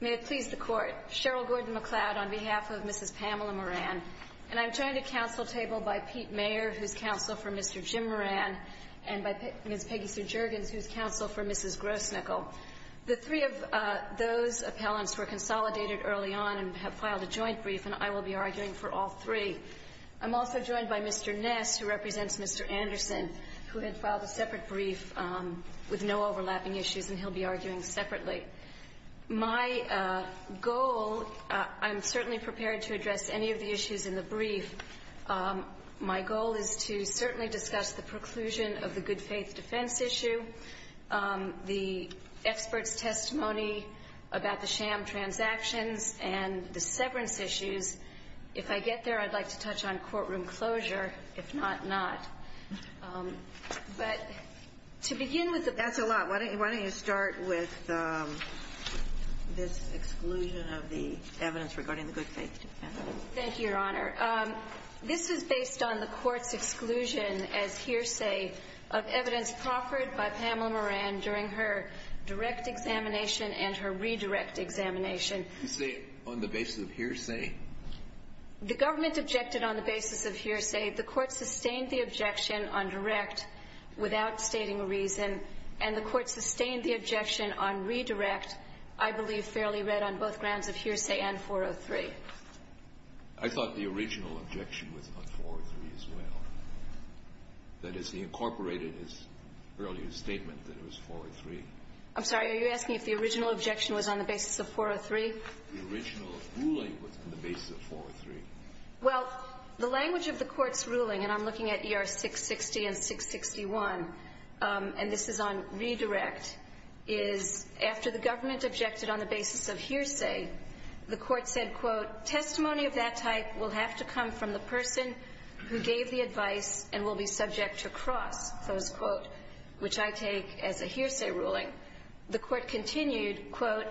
May it please the Court, Cheryl Gordon-McLeod on behalf of Mrs. Pamela Moran, and I'm joined at council table by Pete Mayer, who's counsel for Mr. Jim Moran, and by Ms. Peggy SirGergens, who's counsel for Mrs. Grosnickle. The three of those appellants were consolidated early on and have filed a joint brief, and I will be arguing for all three. I'm also joined by Mr. Ness, who represents Mr. Anderson, who had filed a separate brief with no overlapping issues, and he'll be arguing separately. My goal, I'm certainly prepared to address any of the issues in the brief. My goal is to certainly discuss the preclusion of the good-faith defense issue, the experts' testimony about the sham transactions, and the severance issues. If I get there, I'd like to touch on courtroom closure, if not, not. But to begin with the ---- That's a lot. Why don't you start with this exclusion of the evidence regarding the good-faith defense. Thank you, Your Honor. This is based on the Court's exclusion as hearsay of evidence proffered by Pamela Moran during her direct examination and her redirect examination. You say on the basis of hearsay? The government objected on the basis of hearsay. The Court sustained the objection on direct without stating a reason, and the Court sustained the objection on redirect, I believe, fairly read on both grounds of hearsay and 403. I thought the original objection was on 403 as well. That is, he incorporated his earlier statement that it was 403. I'm sorry. Are you asking if the original objection was on the basis of 403? The original ruling was on the basis of 403. Well, the language of the Court's ruling, and I'm looking at ER 660 and 661, and this is on redirect, is after the government objected on the basis of hearsay, the Court said, quote, testimony of that type will have to come from the person who gave the advice and will be subject to cross, close quote, which I take as a hearsay ruling. The Court continued, quote,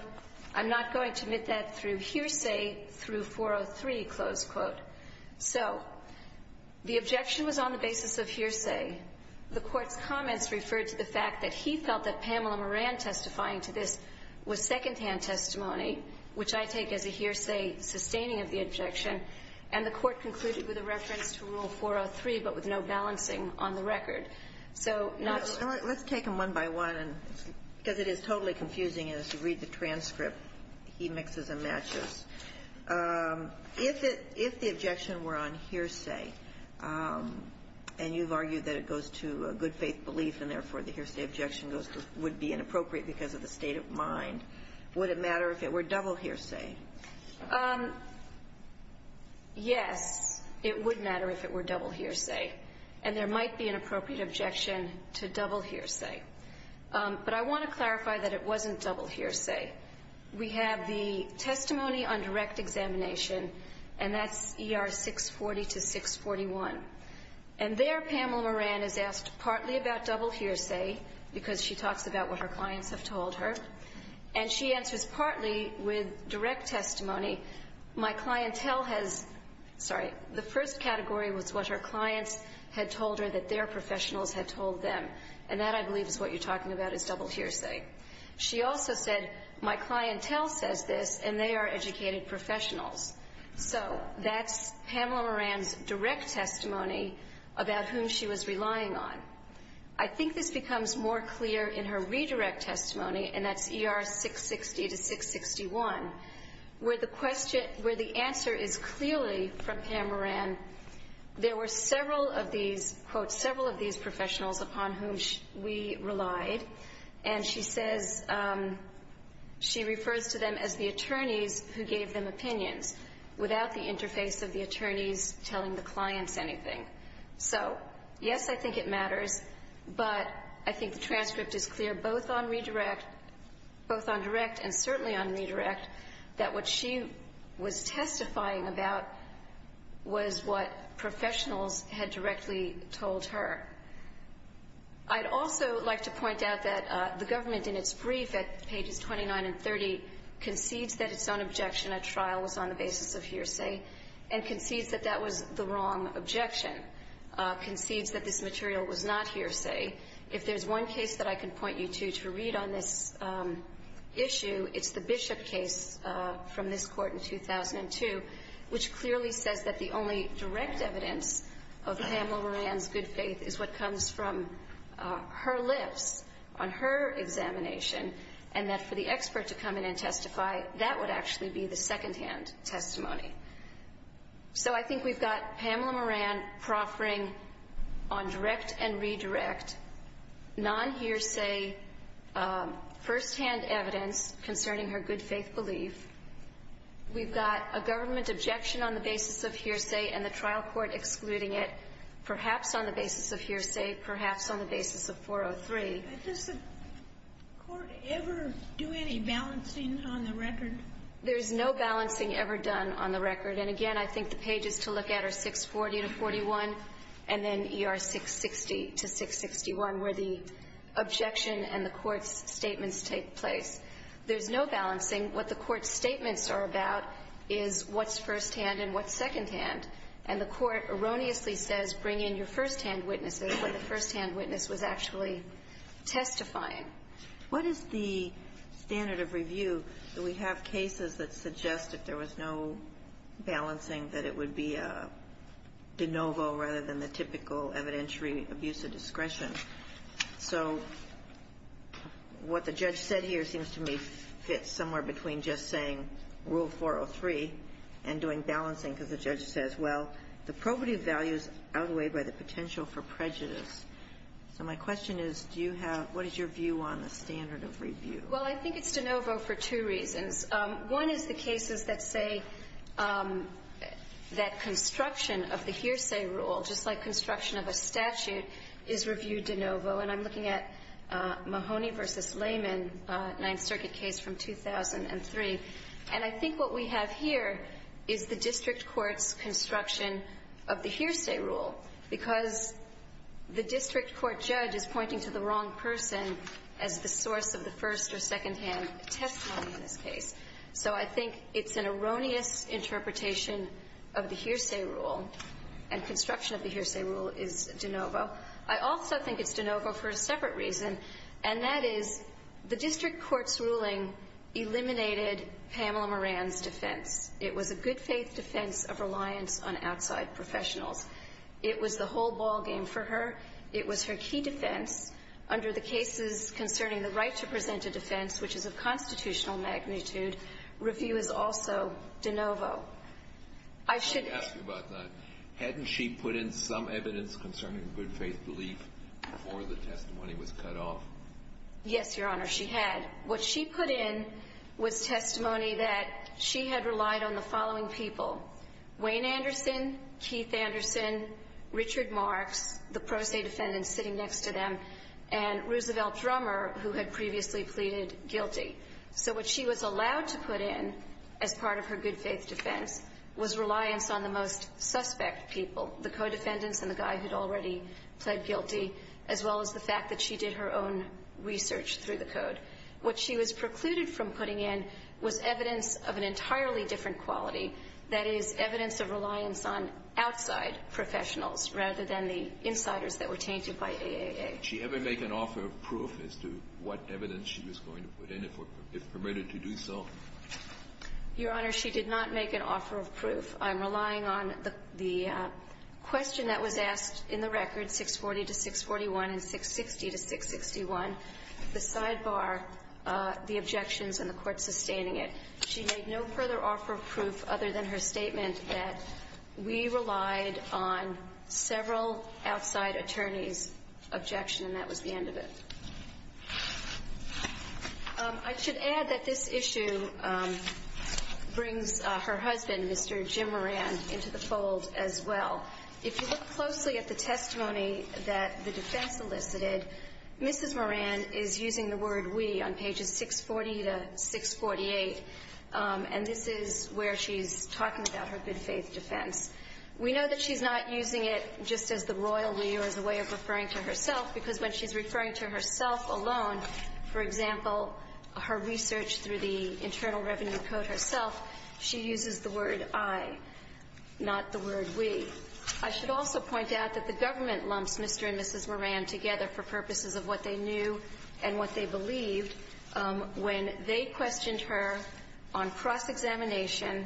I'm not going to admit that through hearsay through 403, close quote. So the objection was on the basis of hearsay. The Court's comments referred to the fact that he felt that Pamela Moran testifying to this was secondhand testimony, which I take as a hearsay sustaining of the objection, and the Court concluded with a reference to Rule 403 but with no balancing on the record. So not to ---- Let's take them one by one, because it is totally confusing as you read the transcript. He mixes and matches. If the objection were on hearsay, and you've argued that it goes to a good-faith belief, and therefore the hearsay objection would be inappropriate because of the state of mind, would it matter if it were double hearsay? Yes, it would matter if it were double hearsay. And there might be an appropriate objection to double hearsay. But I want to clarify that it wasn't double hearsay. We have the testimony on direct examination, and that's ER 640 to 641. And there, Pamela Moran is asked partly about double hearsay, as I have told her, and she answers partly with direct testimony. My clientele has ---- sorry. The first category was what her clients had told her that their professionals had told them. And that, I believe, is what you're talking about, is double hearsay. She also said, my clientele says this, and they are educated professionals. So that's Pamela Moran's direct testimony about whom she was relying on. I think this becomes more clear in her redirect testimony, and that's ER 660 to 661, where the question ---- where the answer is clearly from Pamela Moran, there were several of these, quote, several of these professionals upon whom we relied. And she says ---- she refers to them as the attorneys who gave them opinions without the interface of the attorneys telling the clients anything. So, yes, I think it matters, but I think the transcript is clear, both on redirect ---- both on direct and certainly on redirect, that what she was testifying about was what professionals had directly told her. I'd also like to point out that the government, in its brief at pages 29 and 30, concedes that its own objection at trial was on the basis of hearsay, and concedes that that was the wrong objection, concedes that this material was not hearsay. If there's one case that I can point you to to read on this issue, it's the Bishop case from this court in 2002, which clearly says that the only direct evidence of Pamela Moran's good faith is what comes from her lips on her examination, and that for the expert to come in and testify, that would actually be the secondhand testimony. So I think we've got Pamela Moran proffering on direct and redirect, non-hearsay, firsthand evidence concerning her good faith belief. We've got a government objection on the basis of hearsay and the trial court excluding it, perhaps on the basis of hearsay, perhaps on the basis of 403. Does the court ever do any balancing on the record? There's no balancing ever done on the record. And again, I think the pages to look at are 640 to 41, and then ER 660 to 661, where the objection and the court's statements take place. There's no balancing. What the court's statements are about is what's firsthand and what's secondhand. And the court erroneously says, bring in your firsthand witnesses, when the firsthand witness was actually testifying. What is the standard of review that we have cases that suggest if there was no balancing, that it would be a de novo rather than the typical evidentiary abuse of discretion? So what the judge said here seems to me fits somewhere between just saying Rule 403 and doing balancing, because the judge says, well, the probative value is outweighed by the potential for prejudice. So my question is, what is your view on the standard of review? Well, I think it's de novo for two reasons. One is the cases that say that construction of the hearsay rule, just like construction of a statute, is reviewed de novo. And I'm looking at Mahoney v. Layman, Ninth Circuit case from 2003. And I think what we have here is the district court's construction of the hearsay rule. Because the district court judge is pointing to the wrong person as the source of the first or secondhand testimony in this case. So I think it's an erroneous interpretation of the hearsay rule. And construction of the hearsay rule is de novo. I also think it's de novo for a separate reason. And that is, the district court's ruling eliminated Pamela Moran's defense. It was a good faith defense of reliance on outside professionals. It was the whole ball game for her. It was her key defense. Under the cases concerning the right to present a defense, which is of constitutional magnitude, review is also de novo. I should- Let me ask you about that. Hadn't she put in some evidence concerning good faith belief before the testimony was cut off? Yes, your honor, she had. What she put in was testimony that she had relied on the following people. Wayne Anderson, Keith Anderson, Richard Marks, the pro se defendants sitting next to them, and Roosevelt Drummer, who had previously pleaded guilty. So what she was allowed to put in as part of her good faith defense was reliance on the most suspect people, the co-defendants and the guy who'd already pled guilty, as well as the fact that she did her own research through the code. What she was precluded from putting in was evidence of an entirely different quality, that is, evidence of reliance on outside professionals, rather than the insiders that were tainted by AAA. Did she ever make an offer of proof as to what evidence she was going to put in, if permitted to do so? Your honor, she did not make an offer of proof. I'm relying on the question that was asked in the record, 640 to 641 and 660 to 661. The sidebar, the objections and the court sustaining it. She made no further offer of proof other than her statement that we relied on several outside attorneys' objection, and that was the end of it. I should add that this issue brings her husband, Mr. Jim Moran, into the fold as well. If you look closely at the testimony that the defense elicited, Mrs. Moran is using the word we on pages 640 to 648. And this is where she's talking about her good faith defense. We know that she's not using it just as the royal we or as a way of referring to herself, because when she's referring to herself alone, for example, her research through the Internal Revenue Code herself, she uses the word I, not the word we. I should also point out that the government lumps Mr. and Mrs. Moran together for purposes of what they knew and what they believed when they questioned her on cross-examination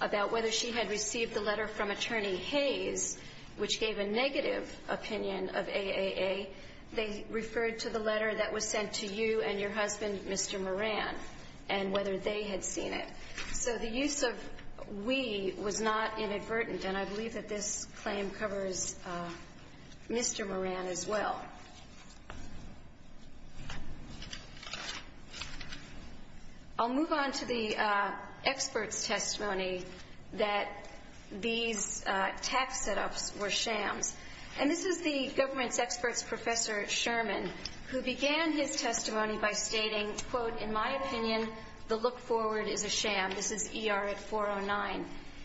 about whether she had received the letter from Attorney Hayes, which gave a negative opinion of AAA. They referred to the letter that was sent to you and your husband, Mr. Moran, and whether they had seen it. So the use of we was not inadvertent, and I believe that this claim covers Mr. Moran as well. I'll move on to the experts' testimony that these tax set-ups were shams. And this is the government's experts' professor, Sherman, who began his testimony by stating, quote, in my opinion, the look forward is a sham. This is ER at 409.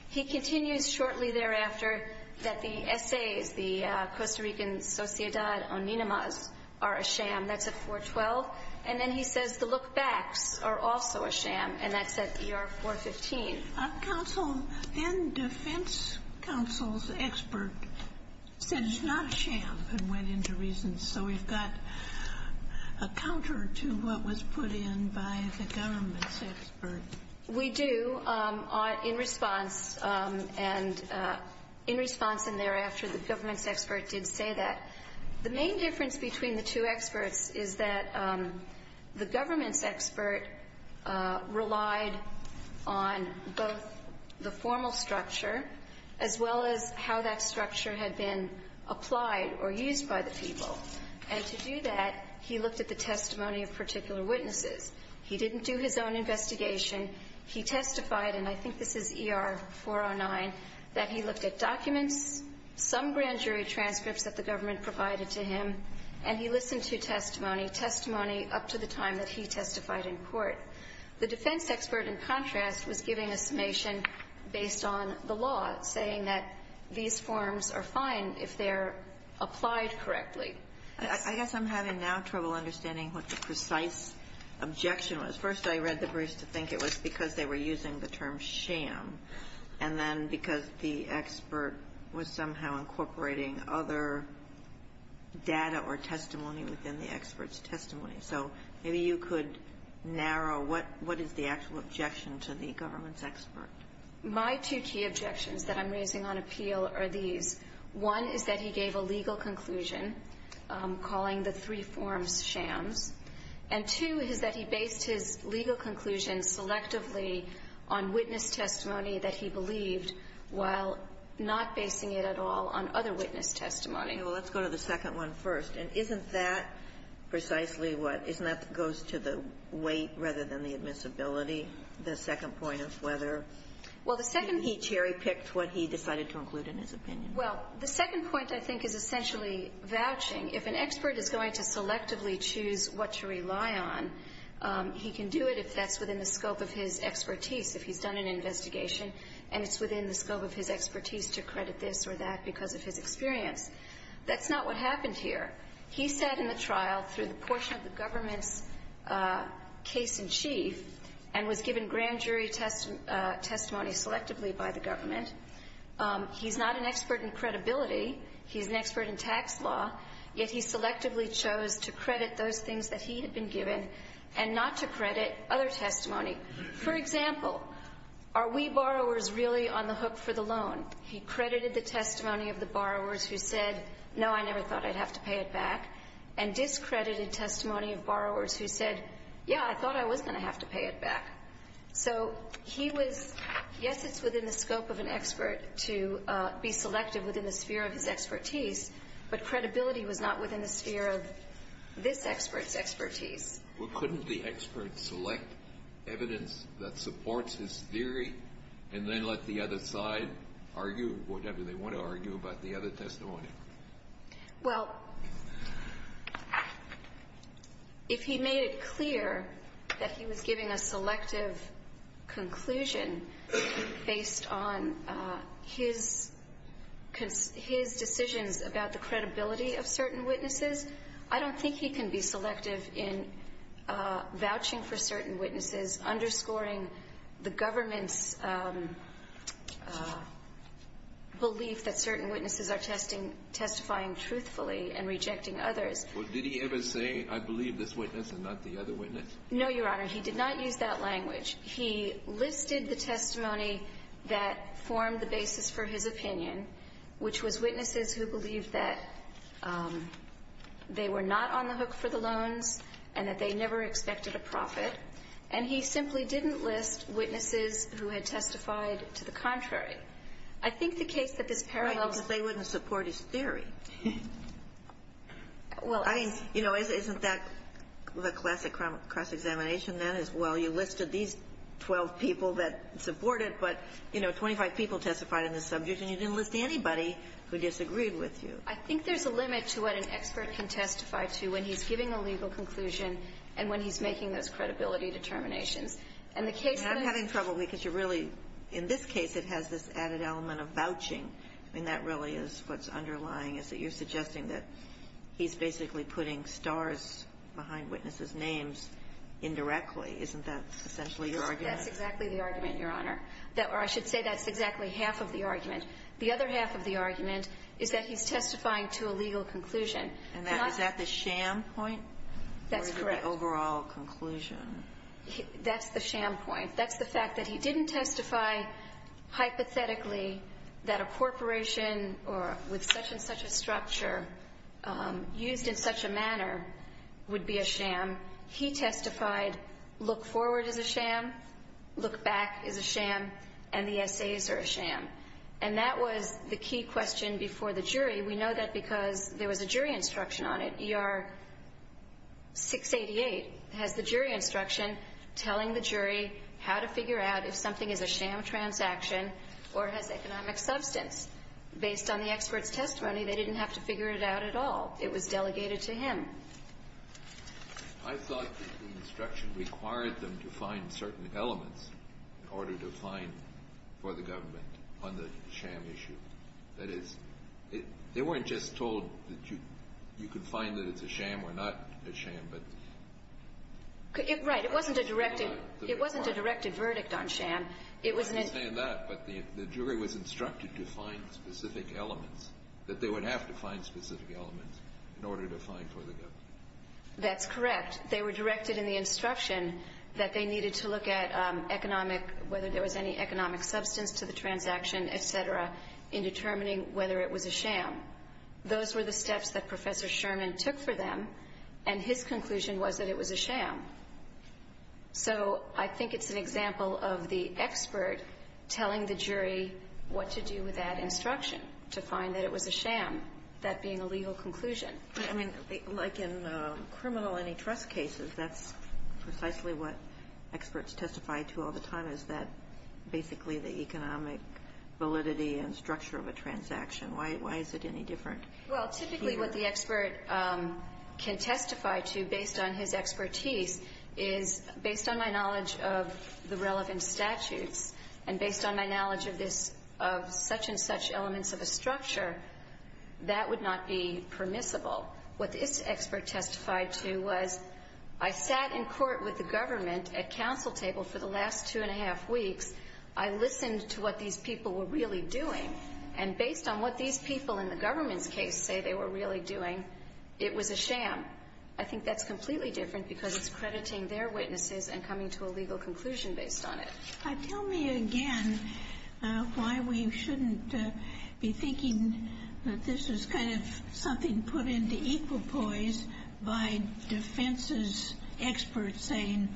He continues shortly thereafter that the essays, the Costa Rican Sociedad Oninemas, are a sham. That's at 412. And then he says the look backs are also a sham, and that's at ER 415. Our counsel and defense counsel's expert said it's not a sham and went into reasons. So we've got a counter to what was put in by the government's expert. We do, in response, and in response and thereafter the government's expert did say that. The main difference between the two experts is that the government's expert relied on both the formal structure, as well as how that structure had been applied or used by the people. And to do that, he looked at the testimony of particular witnesses. He didn't do his own investigation. He testified, and I think this is ER 409, that he looked at documents, some grand jury transcripts that the government provided to him, and he listened to testimony, testimony up to the time that he testified in court. The defense expert, in contrast, was giving a summation based on the law, saying that these forms are fine if they're applied correctly. I guess I'm having now trouble understanding what the precise objection was. First, I read the briefs to think it was because they were using the term sham, and then because the expert was somehow incorporating other data or testimony within the expert's testimony. So maybe you could narrow what is the actual objection to the government's expert. My two key objections that I'm raising on appeal are these. One is that he gave a legal conclusion calling the three forms shams. And two is that he based his legal conclusion selectively on witness testimony that he believed while not basing it at all on other witness testimony. Okay. Well, let's go to the second one first. And isn't that precisely what goes to the weight rather than the admissibility, the second point of whether he cherry-picked what he decided to include in his opinion? Well, the second point, I think, is essentially vouching. If an expert is going to selectively choose what to rely on, he can do it if that's within the scope of his expertise, if he's done an investigation, and it's within the scope of his expertise to credit this or that because of his experience. That's not what happened here. He sat in the trial through the portion of the government's case-in-chief and was given grand jury testimony selectively by the government. He's not an expert in credibility. He's an expert in tax law, yet he selectively chose to credit those things that he had been given and not to credit other testimony. For example, are we borrowers really on the hook for the loan? He credited the testimony of the borrowers who said, no, I never thought I'd have to pay it back, and discredited testimony of borrowers who said, yeah, I thought I was going to have to pay it back. So he was, yes, it's within the scope of an expert to be selective within the sphere of his expertise, but credibility was not within the sphere of this expert's expertise. Well, couldn't the expert select evidence that supports his theory and then let the other side argue whatever they want to argue about the other testimony? Well, if he made it clear that he was giving a selective conclusion based on his decisions about the credibility of certain witnesses, I don't think he can be selective in vouching for certain witnesses, underscoring the government's belief that certain witnesses are testifying truthfully and rejecting others. Well, did he ever say, I believe this witness and not the other witness? No, Your Honor. He did not use that language. He listed the testimony that formed the basis for his opinion, which was witnesses who believed that they were not on the hook for the loans and that they never expected a profit. And he simply didn't list witnesses who had testified to the contrary. I think the case that this parallel is going to. But they wouldn't support his theory. Well, I think. You know, isn't that the classic cross-examination, that is, well, you listed these 12 people that supported but, you know, 25 people testified on this subject, and you didn't list anybody who disagreed with you. I think there's a limit to what an expert can testify to when he's giving a legal conclusion and when he's making those credibility determinations. And the case that he's going to testify to a legal conclusion is not going to be a legal conclusion. And I'm having trouble because you're really, in this case, it has this added element of vouching. I mean, that really is what's underlying, is that you're suggesting that he's basically putting stars behind witnesses' names indirectly. Isn't that essentially your argument? That's exactly the argument, Your Honor. Or I should say that's exactly half of the argument. The other half of the argument is that he's testifying to a legal conclusion. And that is that the sham point? That's correct. Or is it the overall conclusion? That's the sham point. That's the fact that he didn't testify hypothetically that a corporation or with such and such a structure used in such a manner would be a sham. He testified, look forward is a sham, look back is a sham, and the essays are a sham. And that was the key question before the jury. We know that because there was a jury instruction on it. ER 688 has the jury instruction telling the jury how to figure out if something is a sham transaction or has economic substance. Based on the expert's testimony, they didn't have to figure it out at all. It was delegated to him. I thought that the instruction required them to find certain elements in order to find for the government on the sham issue. That is, they weren't just told that you could find that it's a sham or not a sham, but. Right, it wasn't a directed verdict on sham. I understand that, but the jury was instructed to find specific elements, that they would have to find specific elements in order to find for the government. That's correct. They were directed in the instruction that they needed to look at economic, whether there was any economic substance to the transaction, et cetera, in determining whether it was a sham. Those were the steps that Professor Sherman took for them. And his conclusion was that it was a sham. So I think it's an example of the expert telling the jury what to do with that instruction to find that it was a sham, that being a legal conclusion. I mean, like in criminal antitrust cases, that's precisely what experts testify to all the time, is that basically the economic validity and structure of a transaction. Why is it any different here? Well, typically what the expert can testify to, based on his expertise, is, based on my knowledge of the relevant statutes and based on my knowledge of this, of such and such elements of a structure, that would not be permissible. What this expert testified to was, I sat in court with the government at counsel table for the last two and a half weeks. I listened to what these people were really doing. And based on what these people in the government's case say they were really doing, it was a sham. I think that's completely different because it's crediting their witnesses and coming to a legal conclusion based on it. Tell me again why we shouldn't be thinking that this is kind of something put into equal poise by defense's experts saying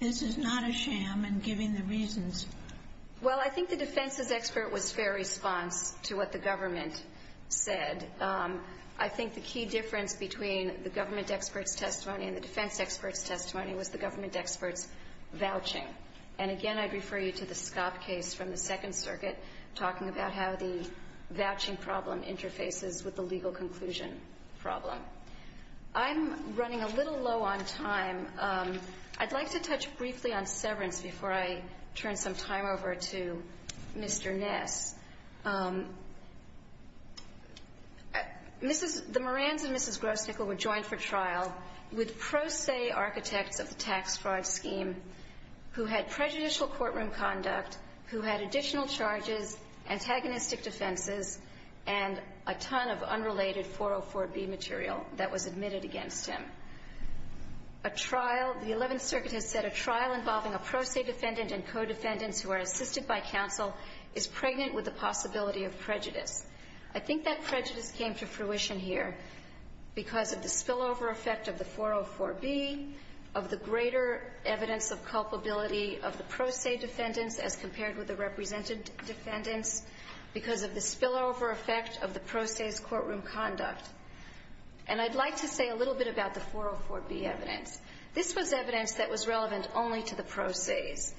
this is not a sham and giving the reasons. Well, I think the defense's expert was fair response to what the government said. I think the key difference between the government expert's testimony and the defense expert's testimony was the government expert's vouching. And again, I'd refer you to the Scobb case from the Second Circuit, talking about how the vouching problem interfaces with the legal conclusion problem. I'm running a little low on time. I'd like to touch briefly on severance before I turn some time over to Mr. Ness. Mrs. — the Morans and Mrs. Grosnickle were joined for trial with pro se architects of the tax fraud scheme who had prejudicial courtroom conduct, who had additional charges, antagonistic defenses, and a ton of unrelated 404b material that was admitted against him. A trial — the Eleventh Circuit has said a trial involving a pro se defendant and co-defendants who are assisted by counsel is pregnant with the possibility of prejudice. I think that prejudice came to fruition here because of the spillover effect of the 404b, of the greater evidence of culpability of the pro se defendants as compared with the represented defendants, because of the spillover effect of the pro se's courtroom conduct. And I'd like to say a little bit about the 404b evidence. This was evidence that was relevant only to the pro se's,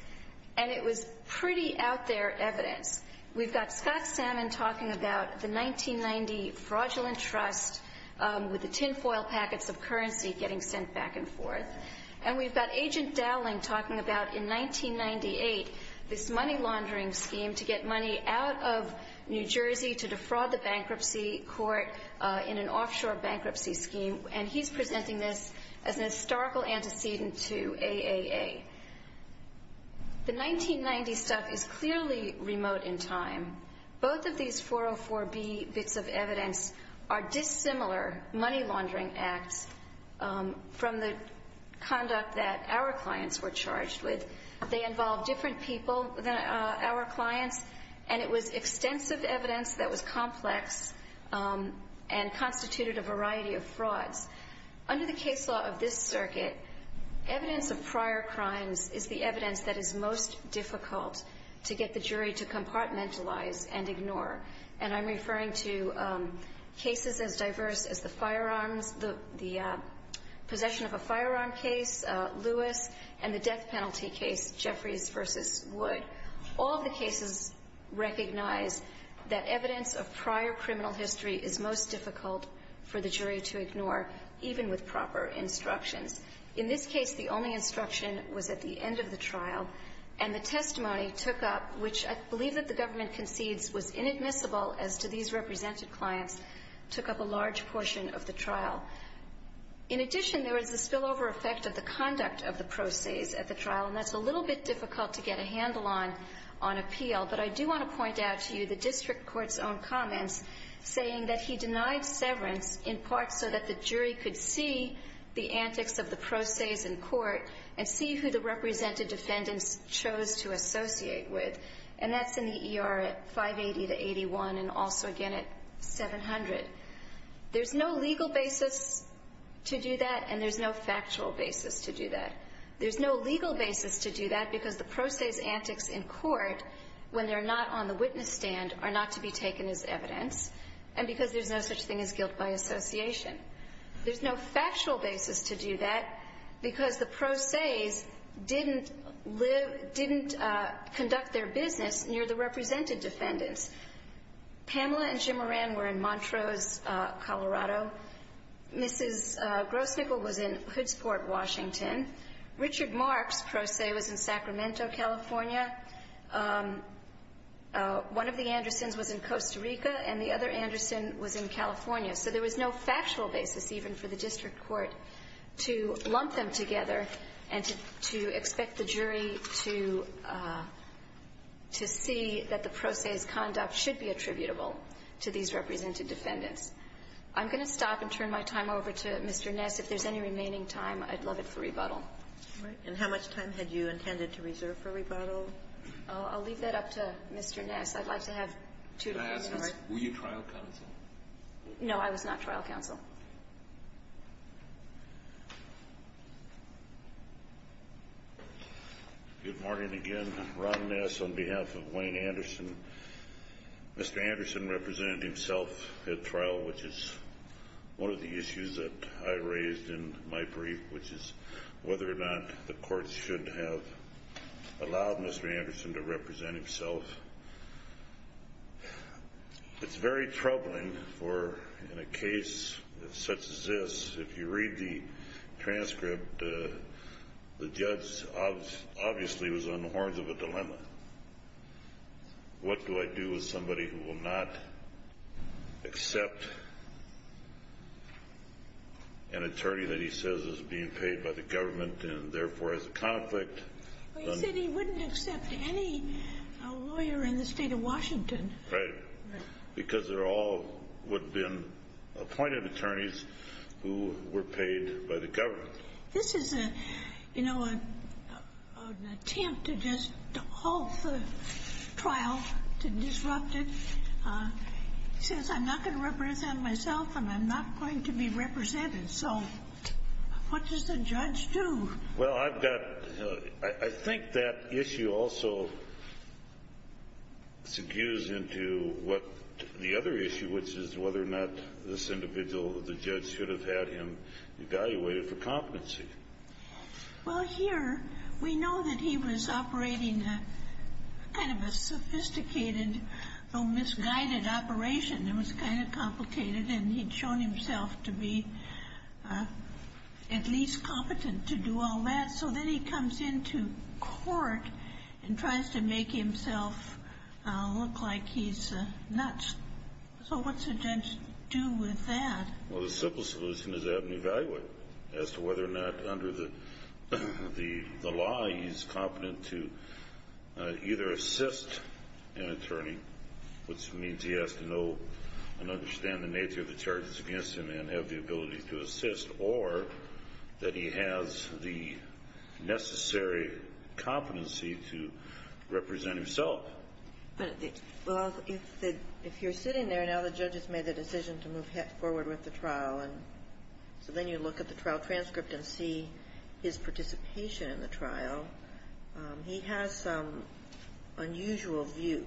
and it was pretty out-there evidence. We've got Scott Salmon talking about the 1990 fraudulent trust with the tinfoil packets of currency getting sent back and forth, and we've got Agent Dowling talking about, in 1998, this money laundering scheme to get money out of New Jersey to defraud the bankruptcy court in an offshore bankruptcy scheme, and he's presenting this as a historical antecedent to AAA. The 1990 stuff is clearly remote in time. Both of these 404b bits of evidence are dissimilar money laundering acts from the time that our clients were charged with. They involve different people than our clients, and it was extensive evidence that was complex and constituted a variety of frauds. Under the case law of this circuit, evidence of prior crimes is the evidence that is most difficult to get the jury to compartmentalize and ignore. And I'm referring to cases as diverse as the firearms, the possession of a firearm case, Lewis, and the death penalty case, Jeffries v. Wood. All of the cases recognize that evidence of prior criminal history is most difficult for the jury to ignore, even with proper instructions. In this case, the only instruction was at the end of the trial, and the testimony took up, which I believe that the government concedes was inadmissible as to these In addition, there was a spillover effect of the conduct of the procés at the trial, and that's a little bit difficult to get a handle on on appeal. But I do want to point out to you the district court's own comments saying that he denied severance in part so that the jury could see the antics of the procés in court and see who the represented defendants chose to associate with. And that's in the ER at 580 to 81 and also, again, at 700. There's no legal basis to do that, and there's no factual basis to do that. There's no legal basis to do that because the procés' antics in court, when they're not on the witness stand, are not to be taken as evidence, and because there's no such thing as guilt by association. There's no factual basis to do that because the procés didn't conduct their business near the represented defendants. Pamela and Jim Moran were in Montrose, Colorado. Mrs. Grossnickle was in Hoodsport, Washington. Richard Mark's procé was in Sacramento, California. One of the Andersons was in Costa Rica, and the other Anderson was in California. So there was no factual basis even for the district court to lump them together and to expect the jury to see that the procés' conduct should be attributable to these represented defendants. I'm going to stop and turn my time over to Mr. Ness. If there's any remaining time, I'd love it for rebuttal. All right. And how much time had you intended to reserve for rebuttal? I'll leave that up to Mr. Ness. I'd like to have two to three more. Were you trial counsel? No, I was not trial counsel. Good morning again. Ron Ness on behalf of Wayne Anderson. Mr. Anderson represented himself at trial, which is one of the issues that I raised in my brief, which is whether or not the court should have allowed Mr. Anderson to represent himself. It's very troubling for in a case such as this. If you read the transcript, the judge obviously was on the horns of a dilemma. What do I do with somebody who will not accept an attorney that he says is being paid by the government and therefore has a conflict? Well, you said he wouldn't accept any lawyer in the state of Washington. Right. Because they're all what have been appointed attorneys who were paid by the government. This is an attempt to just halt the trial, to disrupt it. He says, I'm not going to represent myself and I'm not going to be represented. So what does the judge do? Well, I've got – I think that issue also segues into what the other issue, which is whether or not this individual, the judge, should have had him evaluated for competency. Well, here we know that he was operating a kind of a sophisticated, misguided operation. It was kind of complicated and he'd shown himself to be at least competent to do all that. So then he comes into court and tries to make himself look like he's nuts. So what's a judge do with that? Well, the simple solution is to have him evaluated as to whether or not under the law he's competent to either assist an attorney, which means he has to know and understand the nature of the charges against him and have the ability to assist, or that he has the necessary competency to represent himself. Well, if you're sitting there, now the judge has made the decision to move forward with the trial. And so then you look at the trial transcript and see his participation in the trial. He has some unusual views.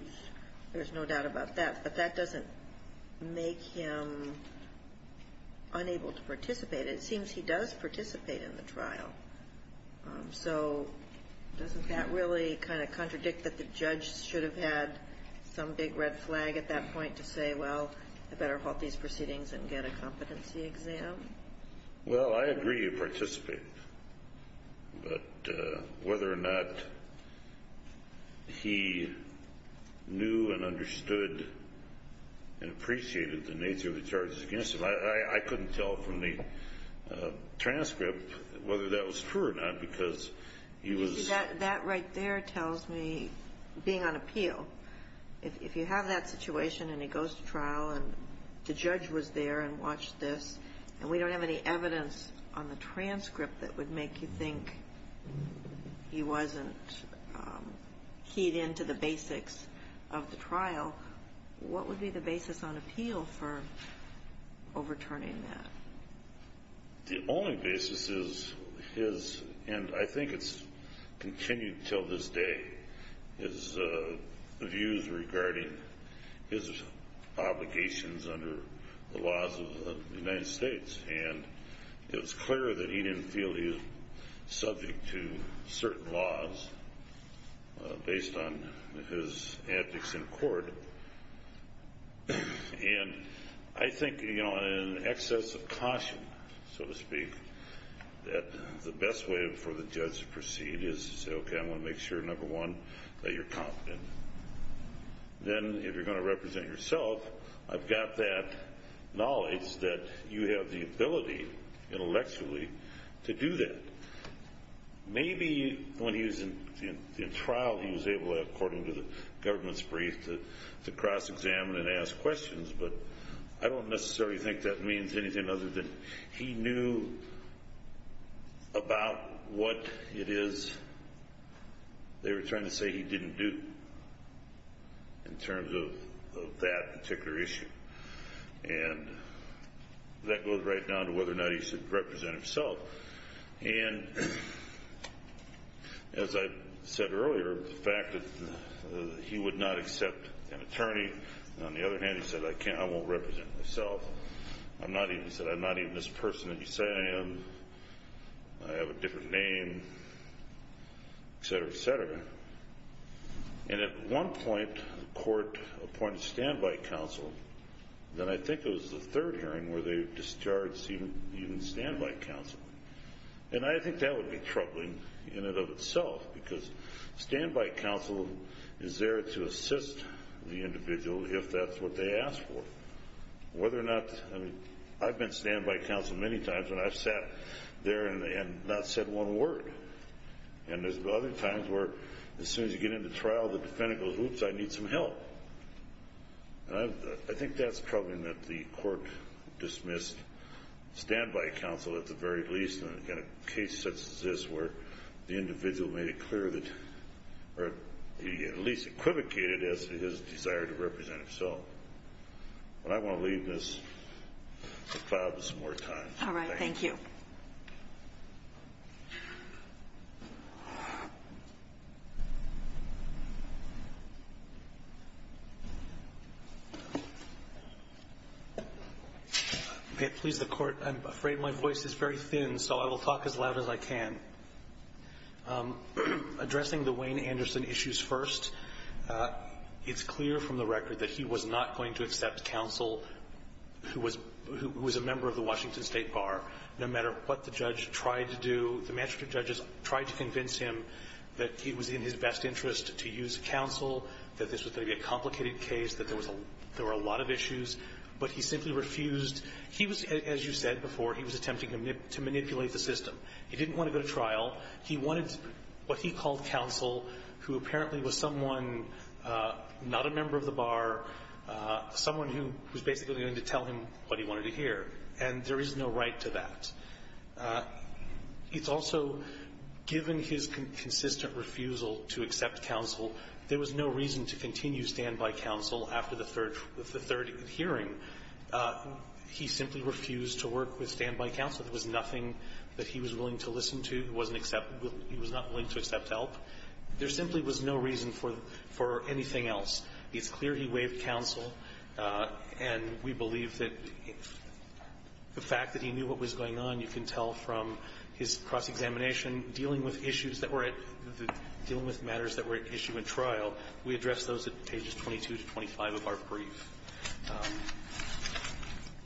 There's no doubt about that. But that doesn't make him unable to participate. It seems he does participate in the trial. So doesn't that really kind of contradict that the judge should have had some big red flag at that point to say, well, I better halt these proceedings and get a competency exam? Well, I agree he participated. But whether or not he knew and understood and appreciated the nature of the charges against him, I couldn't tell from the transcript whether that was true or not, because he was... That right there tells me, being on appeal, if you have that situation and he goes to trial and the judge was there and watched this, and we don't have any evidence on the transcript that would make you think he wasn't keyed into the basics of the trial, what would be the basis on appeal for overturning that? The only basis is his, and I think it's continued until this day, his views regarding his obligations under the laws of the United States. And it was clear that he didn't feel he was subject to certain laws based on his ethics in court. And I think in excess of caution, so to speak, that the best way for the judge to proceed is to say, number one, that you're competent. Then if you're going to represent yourself, I've got that knowledge that you have the ability intellectually to do that. Maybe when he was in trial, he was able, according to the government's brief, to cross-examine and ask questions, but I don't necessarily think that means anything other than he knew about what it is they were trying to say he didn't do in terms of that particular issue. And that goes right down to whether or not he should represent himself. And as I said earlier, the fact that he would not accept an attorney, on the other hand, he said, I can't, I won't represent myself. I'm not even, he said, I'm not even this person that you say I am. I have a different name, et cetera, et cetera. And at one point, the court appointed standby counsel. Then I think it was the third hearing where they discharged even standby counsel. And I think that would be troubling in and of itself, because standby counsel is there to assist the individual if that's what they ask for. Whether or not, I mean, I've been standby counsel many times, and I've sat there and not said one word. And there's other times where as soon as you get into trial, the defendant goes, oops, I need some help. And I think that's troubling that the court dismissed standby counsel at the very least, in a case such as this, where the individual made it clear that, or at least equivocated as his desire to represent himself. But I want to leave this to cloud with some more time. All right. Thank you. Please, the Court. I'm afraid my voice is very thin, so I will talk as loud as I can. Addressing the Wayne Anderson issues first, it's clear from the record that he was not going to accept counsel who was a member of the Washington State Bar, no matter what the judge tried to do. The magistrate judges tried to convince him that he was in his best interest to use counsel, that this was going to be a complicated case, that there was a lot of issues, but he simply refused. He was, as you said before, he was attempting to manipulate the system. He didn't want to go to trial. He wanted what he called counsel, who apparently was someone not a member of the Bar, someone who was basically going to tell him what he wanted to hear. And there is no right to that. It's also, given his consistent refusal to accept counsel, there was no reason to continue stand-by counsel after the third hearing. He simply refused to work with stand-by counsel. There was nothing that he was willing to listen to. He wasn't accepted. He was not willing to accept help. There simply was no reason for anything else. It's clear he waived counsel. And we believe that the fact that he knew what was going on, you can tell from his cross-examination, dealing with issues that were at the – dealing with matters that were at issue in trial, we addressed those at pages 22 to 25 of our brief.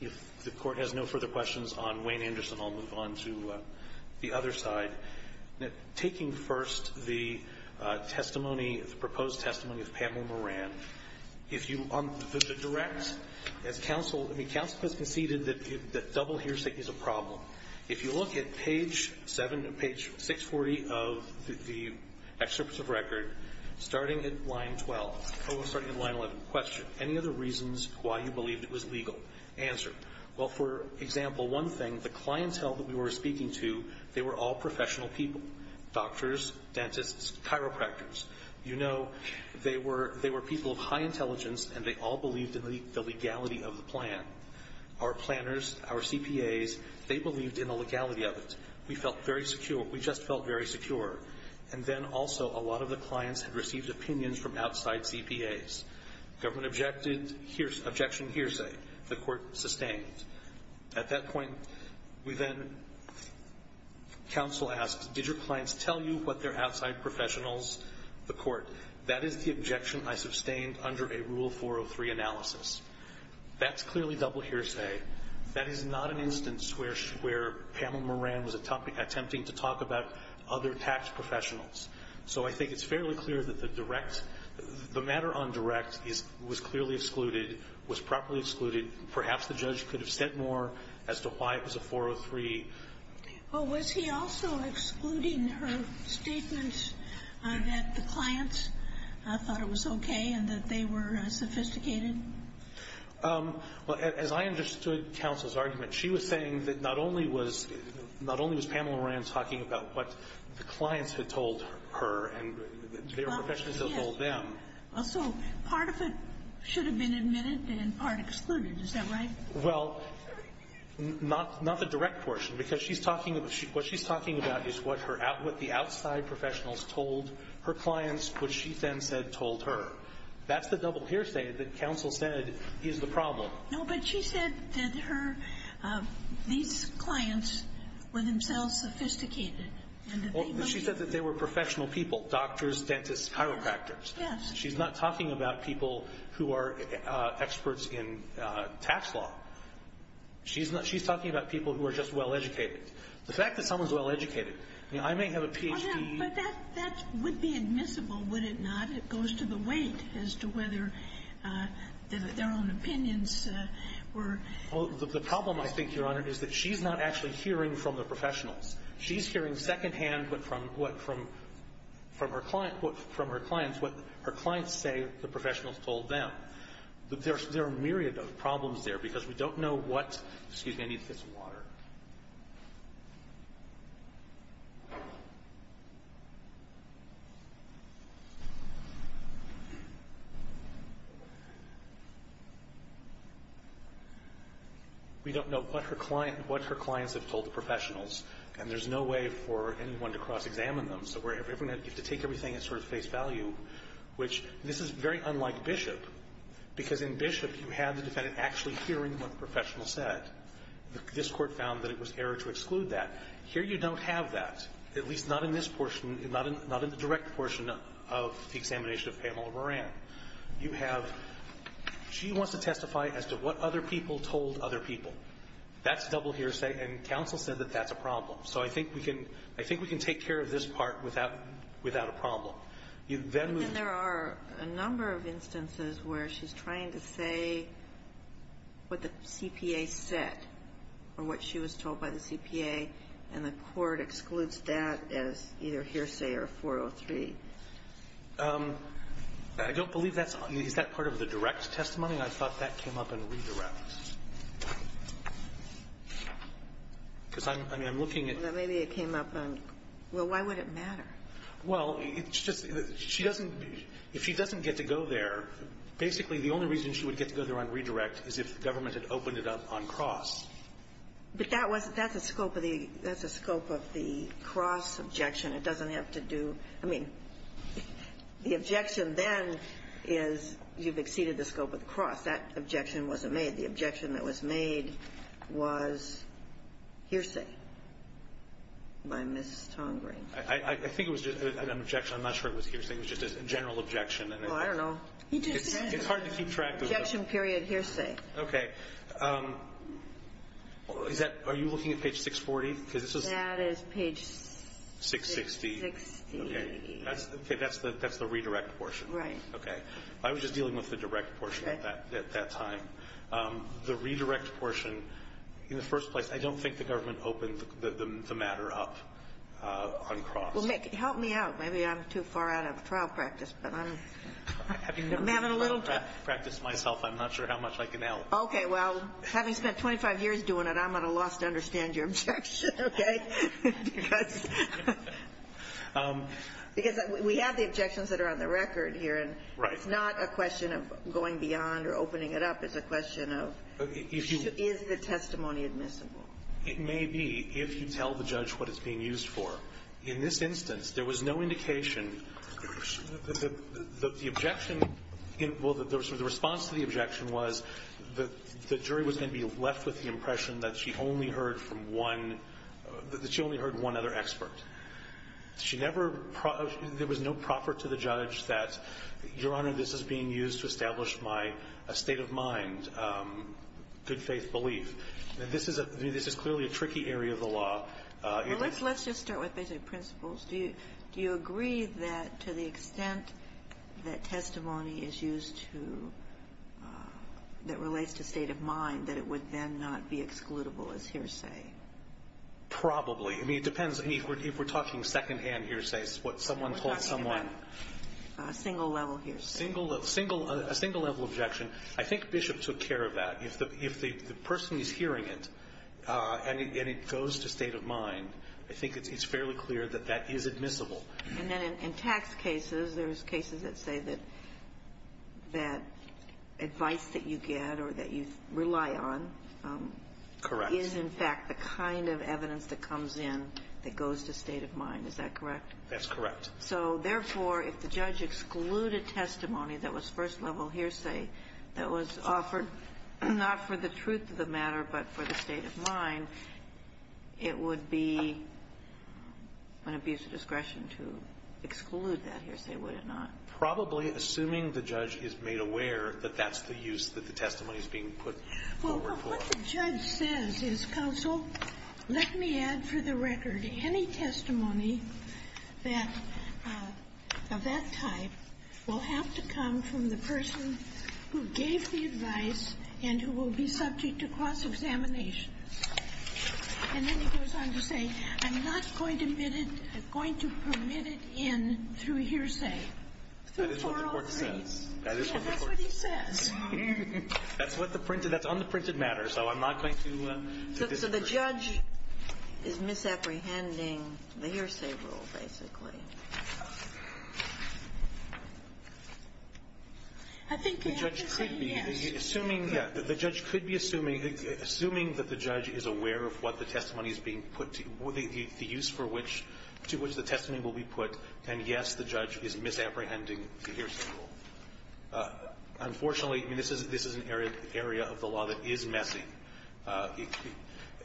If the Court has no further questions on Wayne Anderson, I'll move on to the other side. Taking first the testimony, the proposed testimony of Pamela Moran, if you – on the direct, as counsel – I mean, counsel has conceded that double hearsay is a problem. If you look at page 7 – page 640 of the excerpt of record, starting at line 12 – starting at line 11, question. Any other reasons why you believe it was legal? Answer. Well, for example, one thing, the clientele that we were speaking to, they were all professional people – doctors, dentists, chiropractors. You know, they were – they were people of high intelligence, and they all believed in the legality of the plan. Our planners, our CPAs, they believed in the legality of it. We felt very secure. We just felt very secure. And then also, a lot of the clients had received opinions from outside CPAs. Government objected – objection hearsay. The Court sustained. At that point, we then – counsel asks, did your clients tell you what their outside professionals – the Court. That is the objection I sustained under a Rule 403 analysis. That's clearly double hearsay. That is not an instance where Pamela Moran was attempting to talk about other tax professionals. So I think it's fairly clear that the direct – the matter on direct is – was clearly excluded, was properly excluded. Perhaps the judge could have said more as to why it was a 403. Well, was he also excluding her statements that the clients thought it was okay and that they were sophisticated? Well, as I understood counsel's argument, she was saying that not only was – not only was Pamela Moran talking about what the clients had told her and their professionals had told them. Well, so part of it should have been admitted and part excluded. Is that right? Well, not the direct portion because she's talking – what she's talking about is what her – what the outside professionals told her clients, which she then said told her. That's the double hearsay that counsel said is the problem. No, but she said that her – these clients were themselves sophisticated and that they must – She said that they were professional people – doctors, dentists, chiropractors. Yes. She's not talking about people who are experts in tax law. She's not – she's talking about people who are just well-educated. The fact that someone's well-educated – I mean, I may have a Ph.D. But that would be admissible, would it not? It goes to the weight as to whether their own opinions were – Well, the problem, I think, Your Honor, is that she's not actually hearing from the professionals. She's hearing secondhand from her clients what her clients say the professionals told them. But there are a myriad of problems there because we don't know what – excuse me. I need to get some water. We don't know what her clients have told the professionals, and there's no way for anyone to cross-examine them. So we're – you have to take everything at sort of face value, which – this is very unlike Bishop, because in Bishop, you have the defendant actually hearing what the was error to exclude that. Here, you don't have that, at least not in this portion, not in the direct portion of the examination of Pamela Moran. You have – she wants to testify as to what other people told other people. That's double hearsay, and counsel said that that's a problem. So I think we can – I think we can take care of this part without a problem. You then move to – But then there are a number of instances where she's trying to say what the CPA said or what she was told by the CPA, and the court excludes that as either hearsay or 403. I don't believe that's – is that part of the direct testimony? I thought that came up in redirect. Because I'm – I mean, I'm looking at – Maybe it came up on – well, why would it matter? Well, it's just – she doesn't – if she doesn't get to go there, basically it means that it opened it up on cross. But that wasn't – that's a scope of the – that's a scope of the cross objection. It doesn't have to do – I mean, the objection then is you've exceeded the scope of the cross. That objection wasn't made. The objection that was made was hearsay by Ms. Tongreen. I think it was just an objection. I'm not sure it was hearsay. It was just a general objection. Well, I don't know. He just said it. It's hard to keep track of those. Objection, period, hearsay. Okay. Is that – are you looking at page 640? Because this is – That is page 660. 660. Okay. That's – okay, that's the redirect portion. Right. Okay. I was just dealing with the direct portion at that time. The redirect portion, in the first place, I don't think the government opened the matter up on cross. Well, Mick, help me out. Maybe I'm too far out of trial practice, but I'm – I'm having a little trouble. I practice myself. I'm not sure how much I can help. Okay. Well, having spent 25 years doing it, I'm at a loss to understand your objection, okay, because – because we have the objections that are on the record here. Right. And it's not a question of going beyond or opening it up. It's a question of is the testimony admissible? It may be if you tell the judge what it's being used for. In this instance, there was no indication that the objection – well, the response to the objection was the jury was going to be left with the impression that she only heard from one – that she only heard one other expert. She never – there was no proffer to the judge that, Your Honor, this is being used to establish my state of mind, good faith belief. And this is a – this is clearly a tricky area of the law. Well, let's – let's just start with basic principles. Do you agree that to the extent that testimony is used to – that relates to state of mind, that it would then not be excludable as hearsay? Probably. I mean, it depends. I mean, if we're talking secondhand hearsays, what someone told someone. We're talking about a single-level hearsay. Single – a single-level objection. I think Bishop took care of that. If the person is hearing it and it goes to state of mind, I think it's fairly clear that that is admissible. And then in tax cases, there's cases that say that – that advice that you get or that you rely on is in fact the kind of evidence that comes in that goes to state of mind. Is that correct? That's correct. So therefore, if the judge excluded testimony that was first-level hearsay that was offered not for the truth of the matter but for the state of mind, it would be an abuse of discretion to exclude that hearsay, would it not? Probably, assuming the judge is made aware that that's the use that the testimony is being put forward for. Well, what the judge says is, counsel, let me add for the record, any testimony that – of that type will have to come from the person who gave the advice and who will be subject to cross-examination. And then he goes on to say, I'm not going to permit it in through hearsay. That is what the court says. Yeah, that's what he says. That's what the printed – that's on the printed matter. So I'm not going to disagree. So the judge is misapprehending the hearsay rule, basically. I think they have to say yes. Assuming – yeah, the judge could be assuming – assuming that the judge is aware of what the testimony is being put – the use for which – to which the testimony will be put, then, yes, the judge is misapprehending the hearsay rule. Unfortunately, I mean, this is an area of the law that is messy. I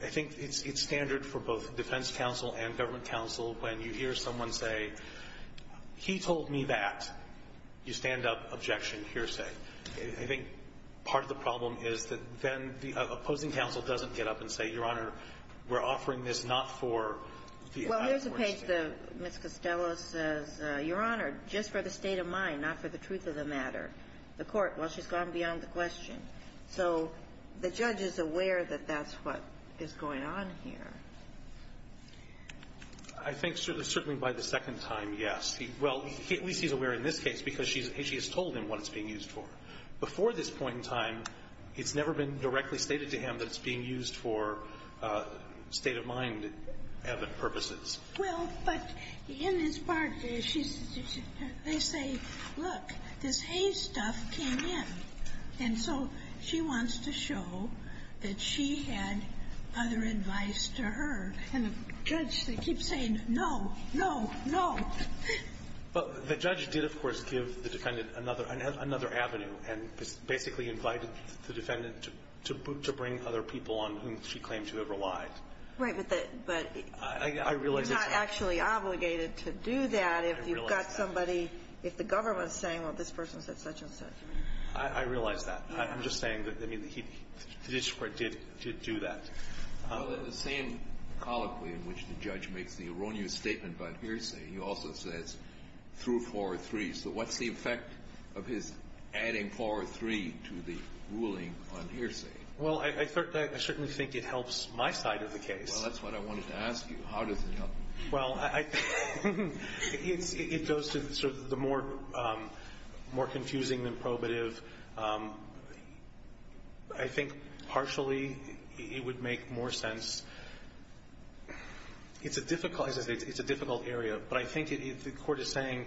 think it's standard for both defense counsel and government counsel when you hear someone say, he told me that, you stand up, objection, hearsay. I think part of the problem is that then the opposing counsel doesn't get up and say, Your Honor, we're offering this not for the – Well, here's a page that Ms. Costello says, Your Honor, just for the state of mind, not for the truth of the matter. The court, well, she's gone beyond the question. So the judge is aware that that's what is going on here. I think certainly by the second time, yes. Well, at least he's aware in this case because she has told him what it's being used for. Before this point in time, it's never been directly stated to him that it's being used for state of mind purposes. Well, but in this part, they say, look, this haystuff came in. And so she wants to show that she had other advice to her. And the judge, they keep saying, no, no, no. But the judge did, of course, give the defendant another avenue and basically invited the defendant to bring other people on whom she claimed to have relied. Right. But the – but you're not actually obligated to do that if you've got somebody – if the government is saying, well, this person said such and such. I realize that. I'm just saying that, I mean, the district court did do that. Well, the same colloquy in which the judge makes the erroneous statement about hearsay, he also says through four or three. So what's the effect of his adding four or three to the ruling on hearsay? Well, I certainly think it helps my side of the case. Well, that's what I wanted to ask you. How does it help? Well, I – it goes to sort of the more confusing than probative. I think partially it would make more sense – it's a difficult – it's a difficult area. But I think the court is saying,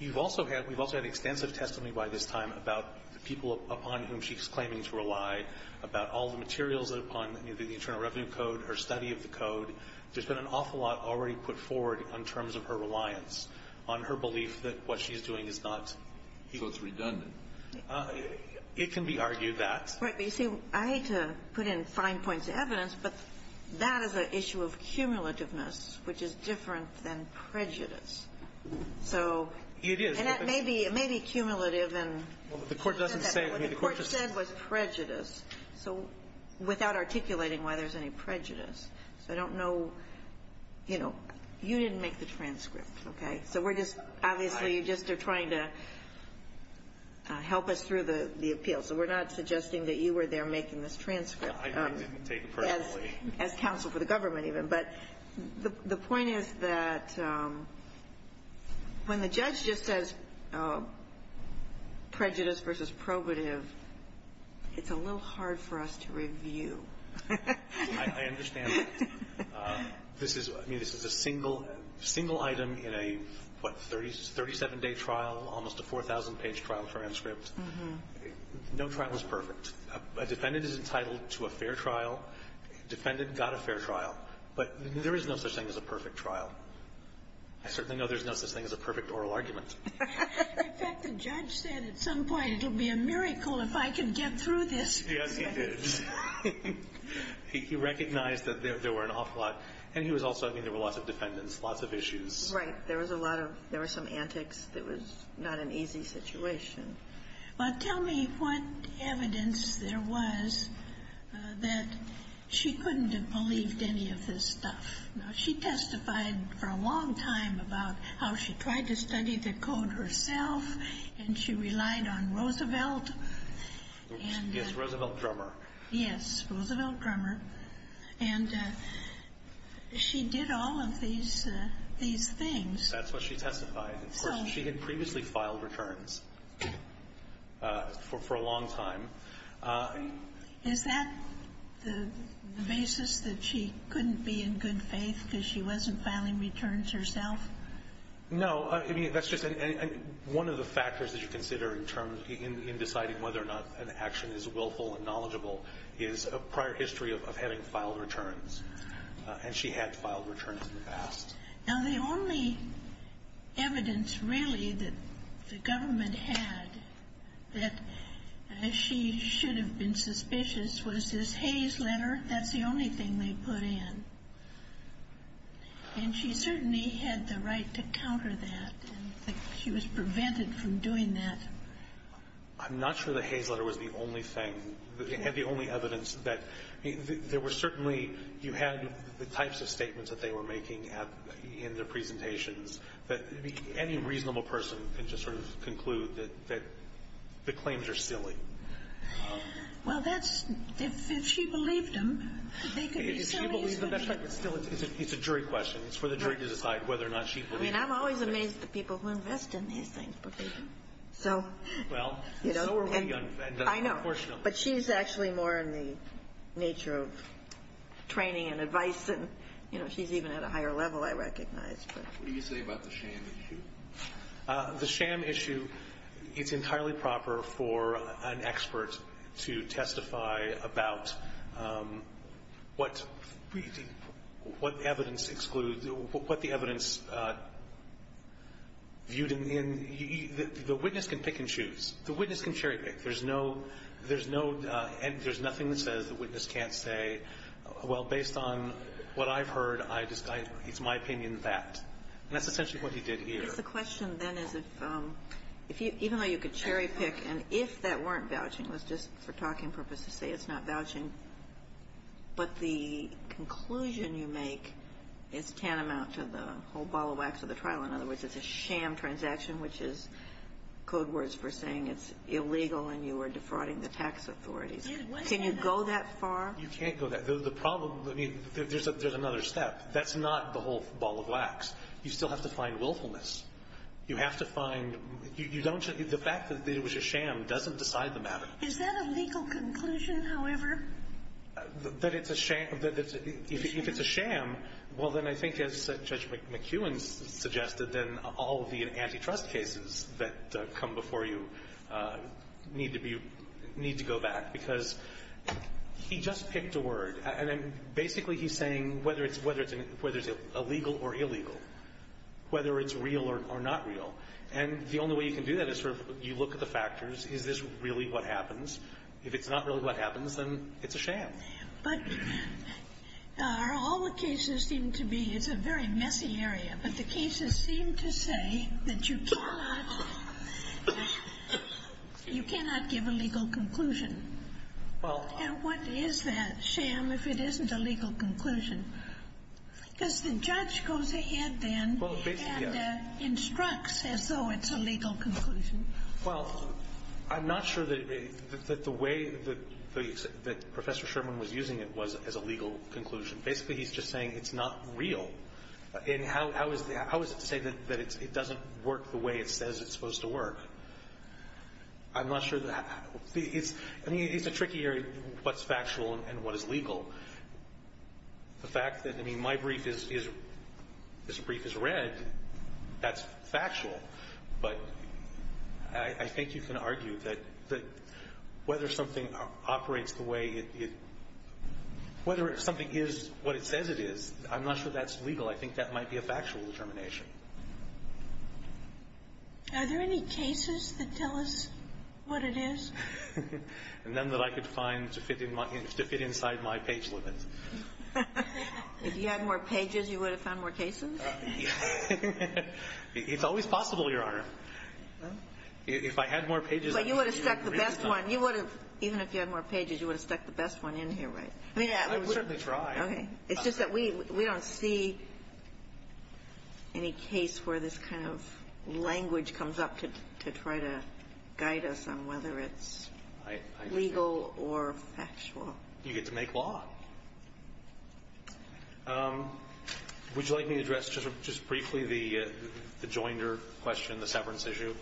you've also had – we've also had extensive testimony by this time about the people upon whom she's claiming to rely, about all the materials upon the Internal Revenue Code, her study of the code. There's been an awful lot already put forward in terms of her reliance, on her belief that what she's doing is not – So it's redundant. It can be argued that. Right. But you see, I hate to put in fine points of evidence, but that is an issue of cumulativeness, which is different than prejudice. So – It is. And that may be – it may be cumulative and – Well, the court doesn't say – What the court said was prejudice. So without articulating why there's any prejudice. So I don't know – you know, you didn't make the transcript, okay? So we're just – obviously, you're just trying to help us through the appeal. So we're not suggesting that you were there making this transcript. I didn't take it personally. As counsel for the government, even. But the point is that when the judge just says prejudice versus probative, it's a little hard for us to review. I understand. This is – I mean, this is a single item in a, what, 37-day trial, almost a 4,000-page trial transcript. No trial is perfect. A defendant is entitled to a fair trial. Defendant got a fair trial. But there is no such thing as a perfect trial. I certainly know there's no such thing as a perfect oral argument. In fact, the judge said at some point, it'll be a miracle if I can get through this. Yes, he did. He recognized that there were an awful lot – and he was also – I mean, there were lots of defendants, lots of issues. Right. There was a lot of – there were some antics that was not an easy situation. Well, tell me what evidence there was that she couldn't have believed any of this stuff. Now, she testified for a long time about how she tried to study the code herself, and she relied on Roosevelt. Yes, Roosevelt Drummer. Yes, Roosevelt Drummer. And she did all of these things. That's what she testified. Of course, she had previously filed returns for a long time. Is that the basis that she couldn't be in good faith because she wasn't filing returns herself? No. I mean, that's just – and one of the factors that you consider in terms – in deciding whether or not an action is willful and knowledgeable is a prior history of having filed returns. And she had filed returns in the past. Now, the only evidence, really, that the government had that she should have been suspicious was this Hayes letter. That's the only thing they put in. And she certainly had the right to counter that, and she was prevented from doing that. I'm not sure the Hayes letter was the only thing – had the only evidence that – I mean, there were certainly – you had the types of statements that they were making in their presentations that any reasonable person can just sort of conclude that the claims are silly. Well, that's – if she believed them, they could be silly. If she believed them, that's right, but still, it's a jury question. It's for the jury to decide whether or not she believed them. I mean, I'm always amazed at the people who invest in these things, but they do. So – Well, so are we, unfortunately. I know, but she's actually more in the nature of training and advice than – you know, she's even at a higher level, I recognize. What do you say about the sham issue? The sham issue, it's entirely proper for an expert to testify about what evidence excludes – what the evidence viewed in – the witness can pick and choose. The witness can cherry pick. There's no – there's no – there's nothing that says the witness can't say, well, based on what I've heard, I – it's my opinion that – and that's essentially what he did here. I guess the question then is if – even though you could cherry pick, and if that weren't vouching, it was just for talking purpose to say it's not vouching, but the conclusion you make is tantamount to the whole ball of wax of the trial. In other words, it's a sham transaction, which is code words for saying it's illegal and you are defrauding the tax authorities. Can you go that far? You can't go that – the problem – I mean, there's another step. That's not the whole ball of wax. You still have to find willfulness. You have to find – you don't – the fact that it was a sham doesn't decide the matter. Is that a legal conclusion, however? That it's a sham – that it's – if it's a sham, well, then I think, as Judge McEwen suggested, then all of the antitrust cases that come before you need to be – need to go back, because he just picked a word. And then basically he's saying whether it's – whether it's illegal or illegal, whether it's real or not real. And the only way you can do that is sort of you look at the factors. Is this really what happens? If it's not really what happens, then it's a sham. But are all the cases seem to be – it's a very messy area, but the cases seem to say that you cannot – you cannot give a legal conclusion. Well – And what is that sham if it isn't a legal conclusion? Because the judge goes ahead then and instructs as though it's a legal conclusion. Well, I'm not sure that the way that Professor Sherman was using it was as a legal conclusion. Basically, he's just saying it's not real. And how is it to say that it doesn't work the way it says it's supposed to work? I'm not sure that – it's – I mean, it's a tricky area, what's factual and what is legal. The fact that, I mean, my brief is – this brief is read, that's factual. But I think you can argue that whether something operates the way it – whether something is what it says it is, I'm not sure that's legal. I think that might be a factual determination. Are there any cases that tell us what it is? None that I could find to fit in my – to fit inside my page limit. If you had more pages, you would have found more cases? It's always possible, Your Honor. If I had more pages, I would have been able to read them. But you would have stuck the best one. You would have – even if you had more pages, you would have stuck the best one in here, right? I mean, I would have tried. Okay. It's just that we don't see any case where this kind of language comes up to try to guide us on whether it's legal or factual. You get to make law. Would you like me to address just briefly the Joinder question, the severance issue?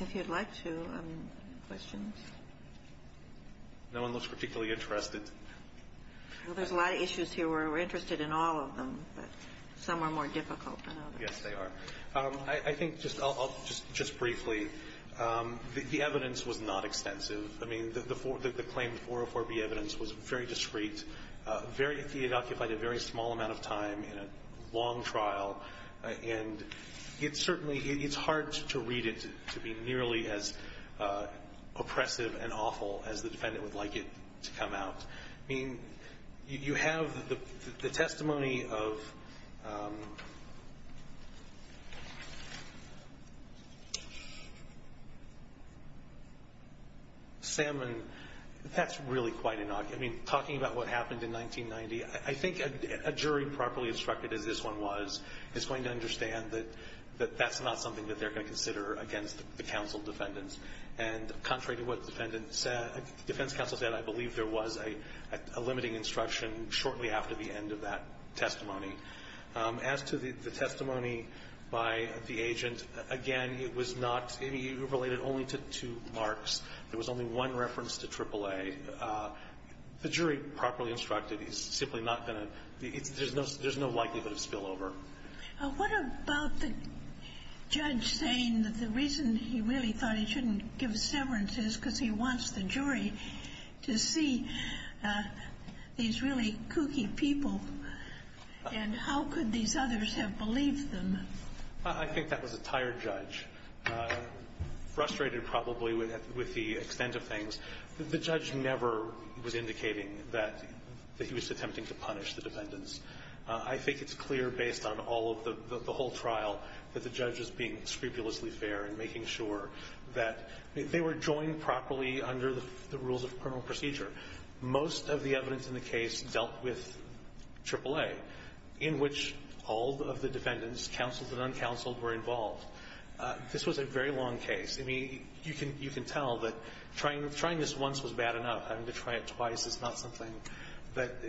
If you'd like to, questions? No one looks particularly interested. Well, there's a lot of issues here where we're interested in all of them, but some are more difficult than others. Yes, they are. I think just – I'll just briefly. The evidence was not extensive. I mean, the claim, the 404B evidence was very discreet, very – it occupied a very small amount of time in a long trial. And it's certainly – it's hard to read it to be nearly as oppressive and awful as the defendant would like it to come out. I mean, you have the testimony of Salmon. That's really quite an – I mean, talking about what happened in 1990, I think a jury properly instructed, as this one was, is going to understand that that's not something that they're going to consider against the counsel defendants. And contrary to what the defendant said – the defense counsel said, I believe there was a limiting instruction shortly after the end of that testimony. As to the testimony by the agent, again, it was not – it related only to two marks. There was only one reference to AAA. The jury properly instructed is simply not going to – there's no likelihood of spillover. What about the judge saying that the reason he really thought he shouldn't give severance is because he wants the jury to see these really kooky people, and how could these others have believed them? I think that was a tired judge, frustrated probably with the extent of things. The judge never was indicating that he was attempting to punish the defendants. I think it's clear based on all of the – the whole trial that the judge was being scrupulously fair in making sure that they were joined properly under the rules of criminal procedure. Most of the evidence in the case dealt with AAA, in which all of the defendants, counseled and uncounseled, were involved. This was a very long case. I mean, you can – you can tell that trying – trying this once was bad enough. I mean, to try it twice is not something that –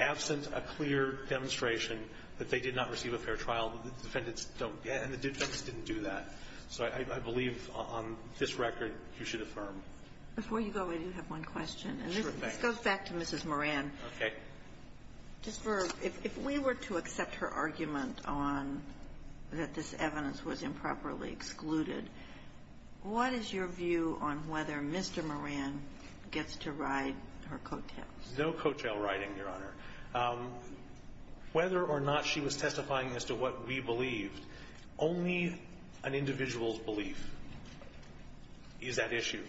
absent a clear demonstration that they did not receive a fair trial, the defendants don't – and the defendants didn't do that. So I believe on this record you should affirm. Before you go, I do have one question. Sure. Go back to Mrs. Moran. Okay. Just for – if we were to accept her argument on that this evidence was improperly to ride her coattails. No coattail riding, Your Honor. Whether or not she was testifying as to what we believed, only an individual's belief is that issue.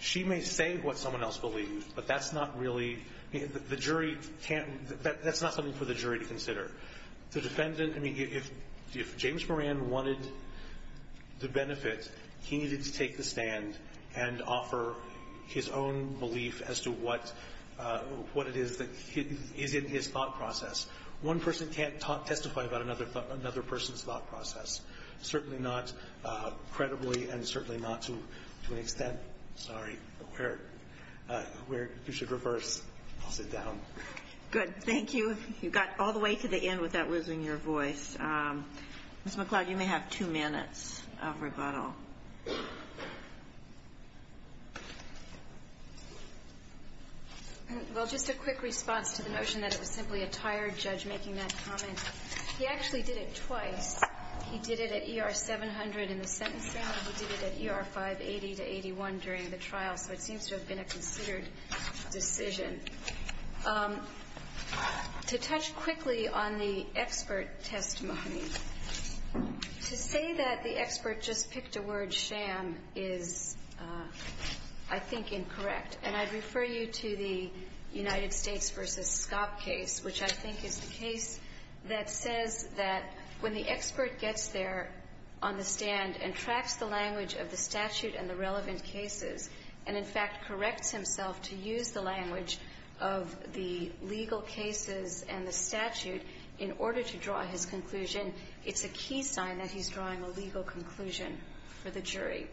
She may say what someone else believes, but that's not really – the jury can't – that's not something for the jury to consider. The defendant – I mean, if James Moran wanted the benefit, he needed to take the stand and offer his own belief as to what – what it is that is in his thought process. One person can't testify about another – another person's thought process. Certainly not credibly and certainly not to an extent – sorry, where – where you should reverse. I'll sit down. Good. Thank you. You got all the way to the end without losing your voice. Ms. McCloud, you may have two minutes of rebuttal. Well, just a quick response to the notion that it was simply a tired judge making that comment. He actually did it twice. He did it at ER 700 in the sentencing and he did it at ER 580 to 81 during the trial, so it seems to have been a considered decision. To touch quickly on the expert testimony, to say that the expert just picked a word sham is, I think, incorrect. And I'd refer you to the United States v. Scopp case, which I think is the case that says that when the expert gets there on the stand and tracks the language of the statute and the relevant cases, and in fact corrects himself to use the language of the legal cases and the statute in order to draw his conclusion, it's a key sign that he's drawing a legal conclusion for the jury.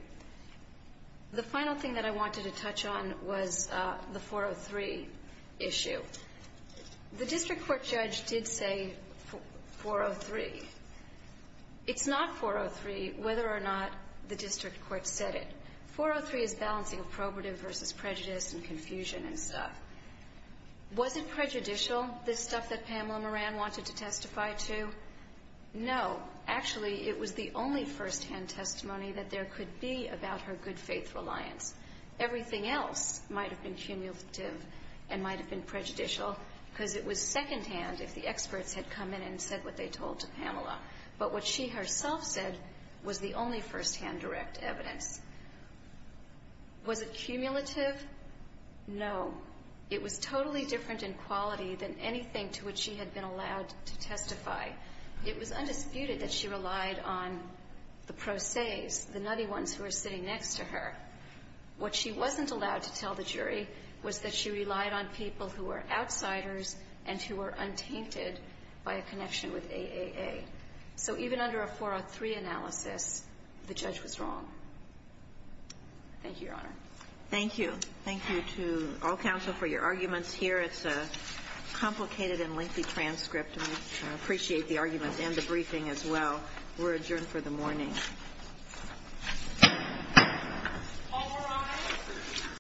The final thing that I wanted to touch on was the 403 issue. The district court judge did say 403. It's not 403 whether or not the district court said it. 403 is balancing appropriative versus prejudice and confusion and stuff. Was it prejudicial, this stuff that Pamela Moran wanted to testify to? No, actually it was the only first hand testimony that there could be about her good faith reliance. Everything else might have been cumulative and might have been prejudicial because it was second hand if the experts had come in and said what they told to Pamela. But what she herself said was the only first hand direct evidence. Was it cumulative? No. It was totally different in quality than anything to which she had been allowed to testify. It was undisputed that she relied on the pro ses, the nutty ones who were sitting next to her. What she wasn't allowed to tell the jury was that she relied on people who were outsiders and who were untainted by a connection with AAA. So even under a 403 analysis, the judge was wrong. Thank you, Your Honor. Thank you. Thank you to all counsel for your arguments here. It's a complicated and lengthy transcript. We appreciate the arguments and the briefing as well. We're adjourned for the morning. All rise.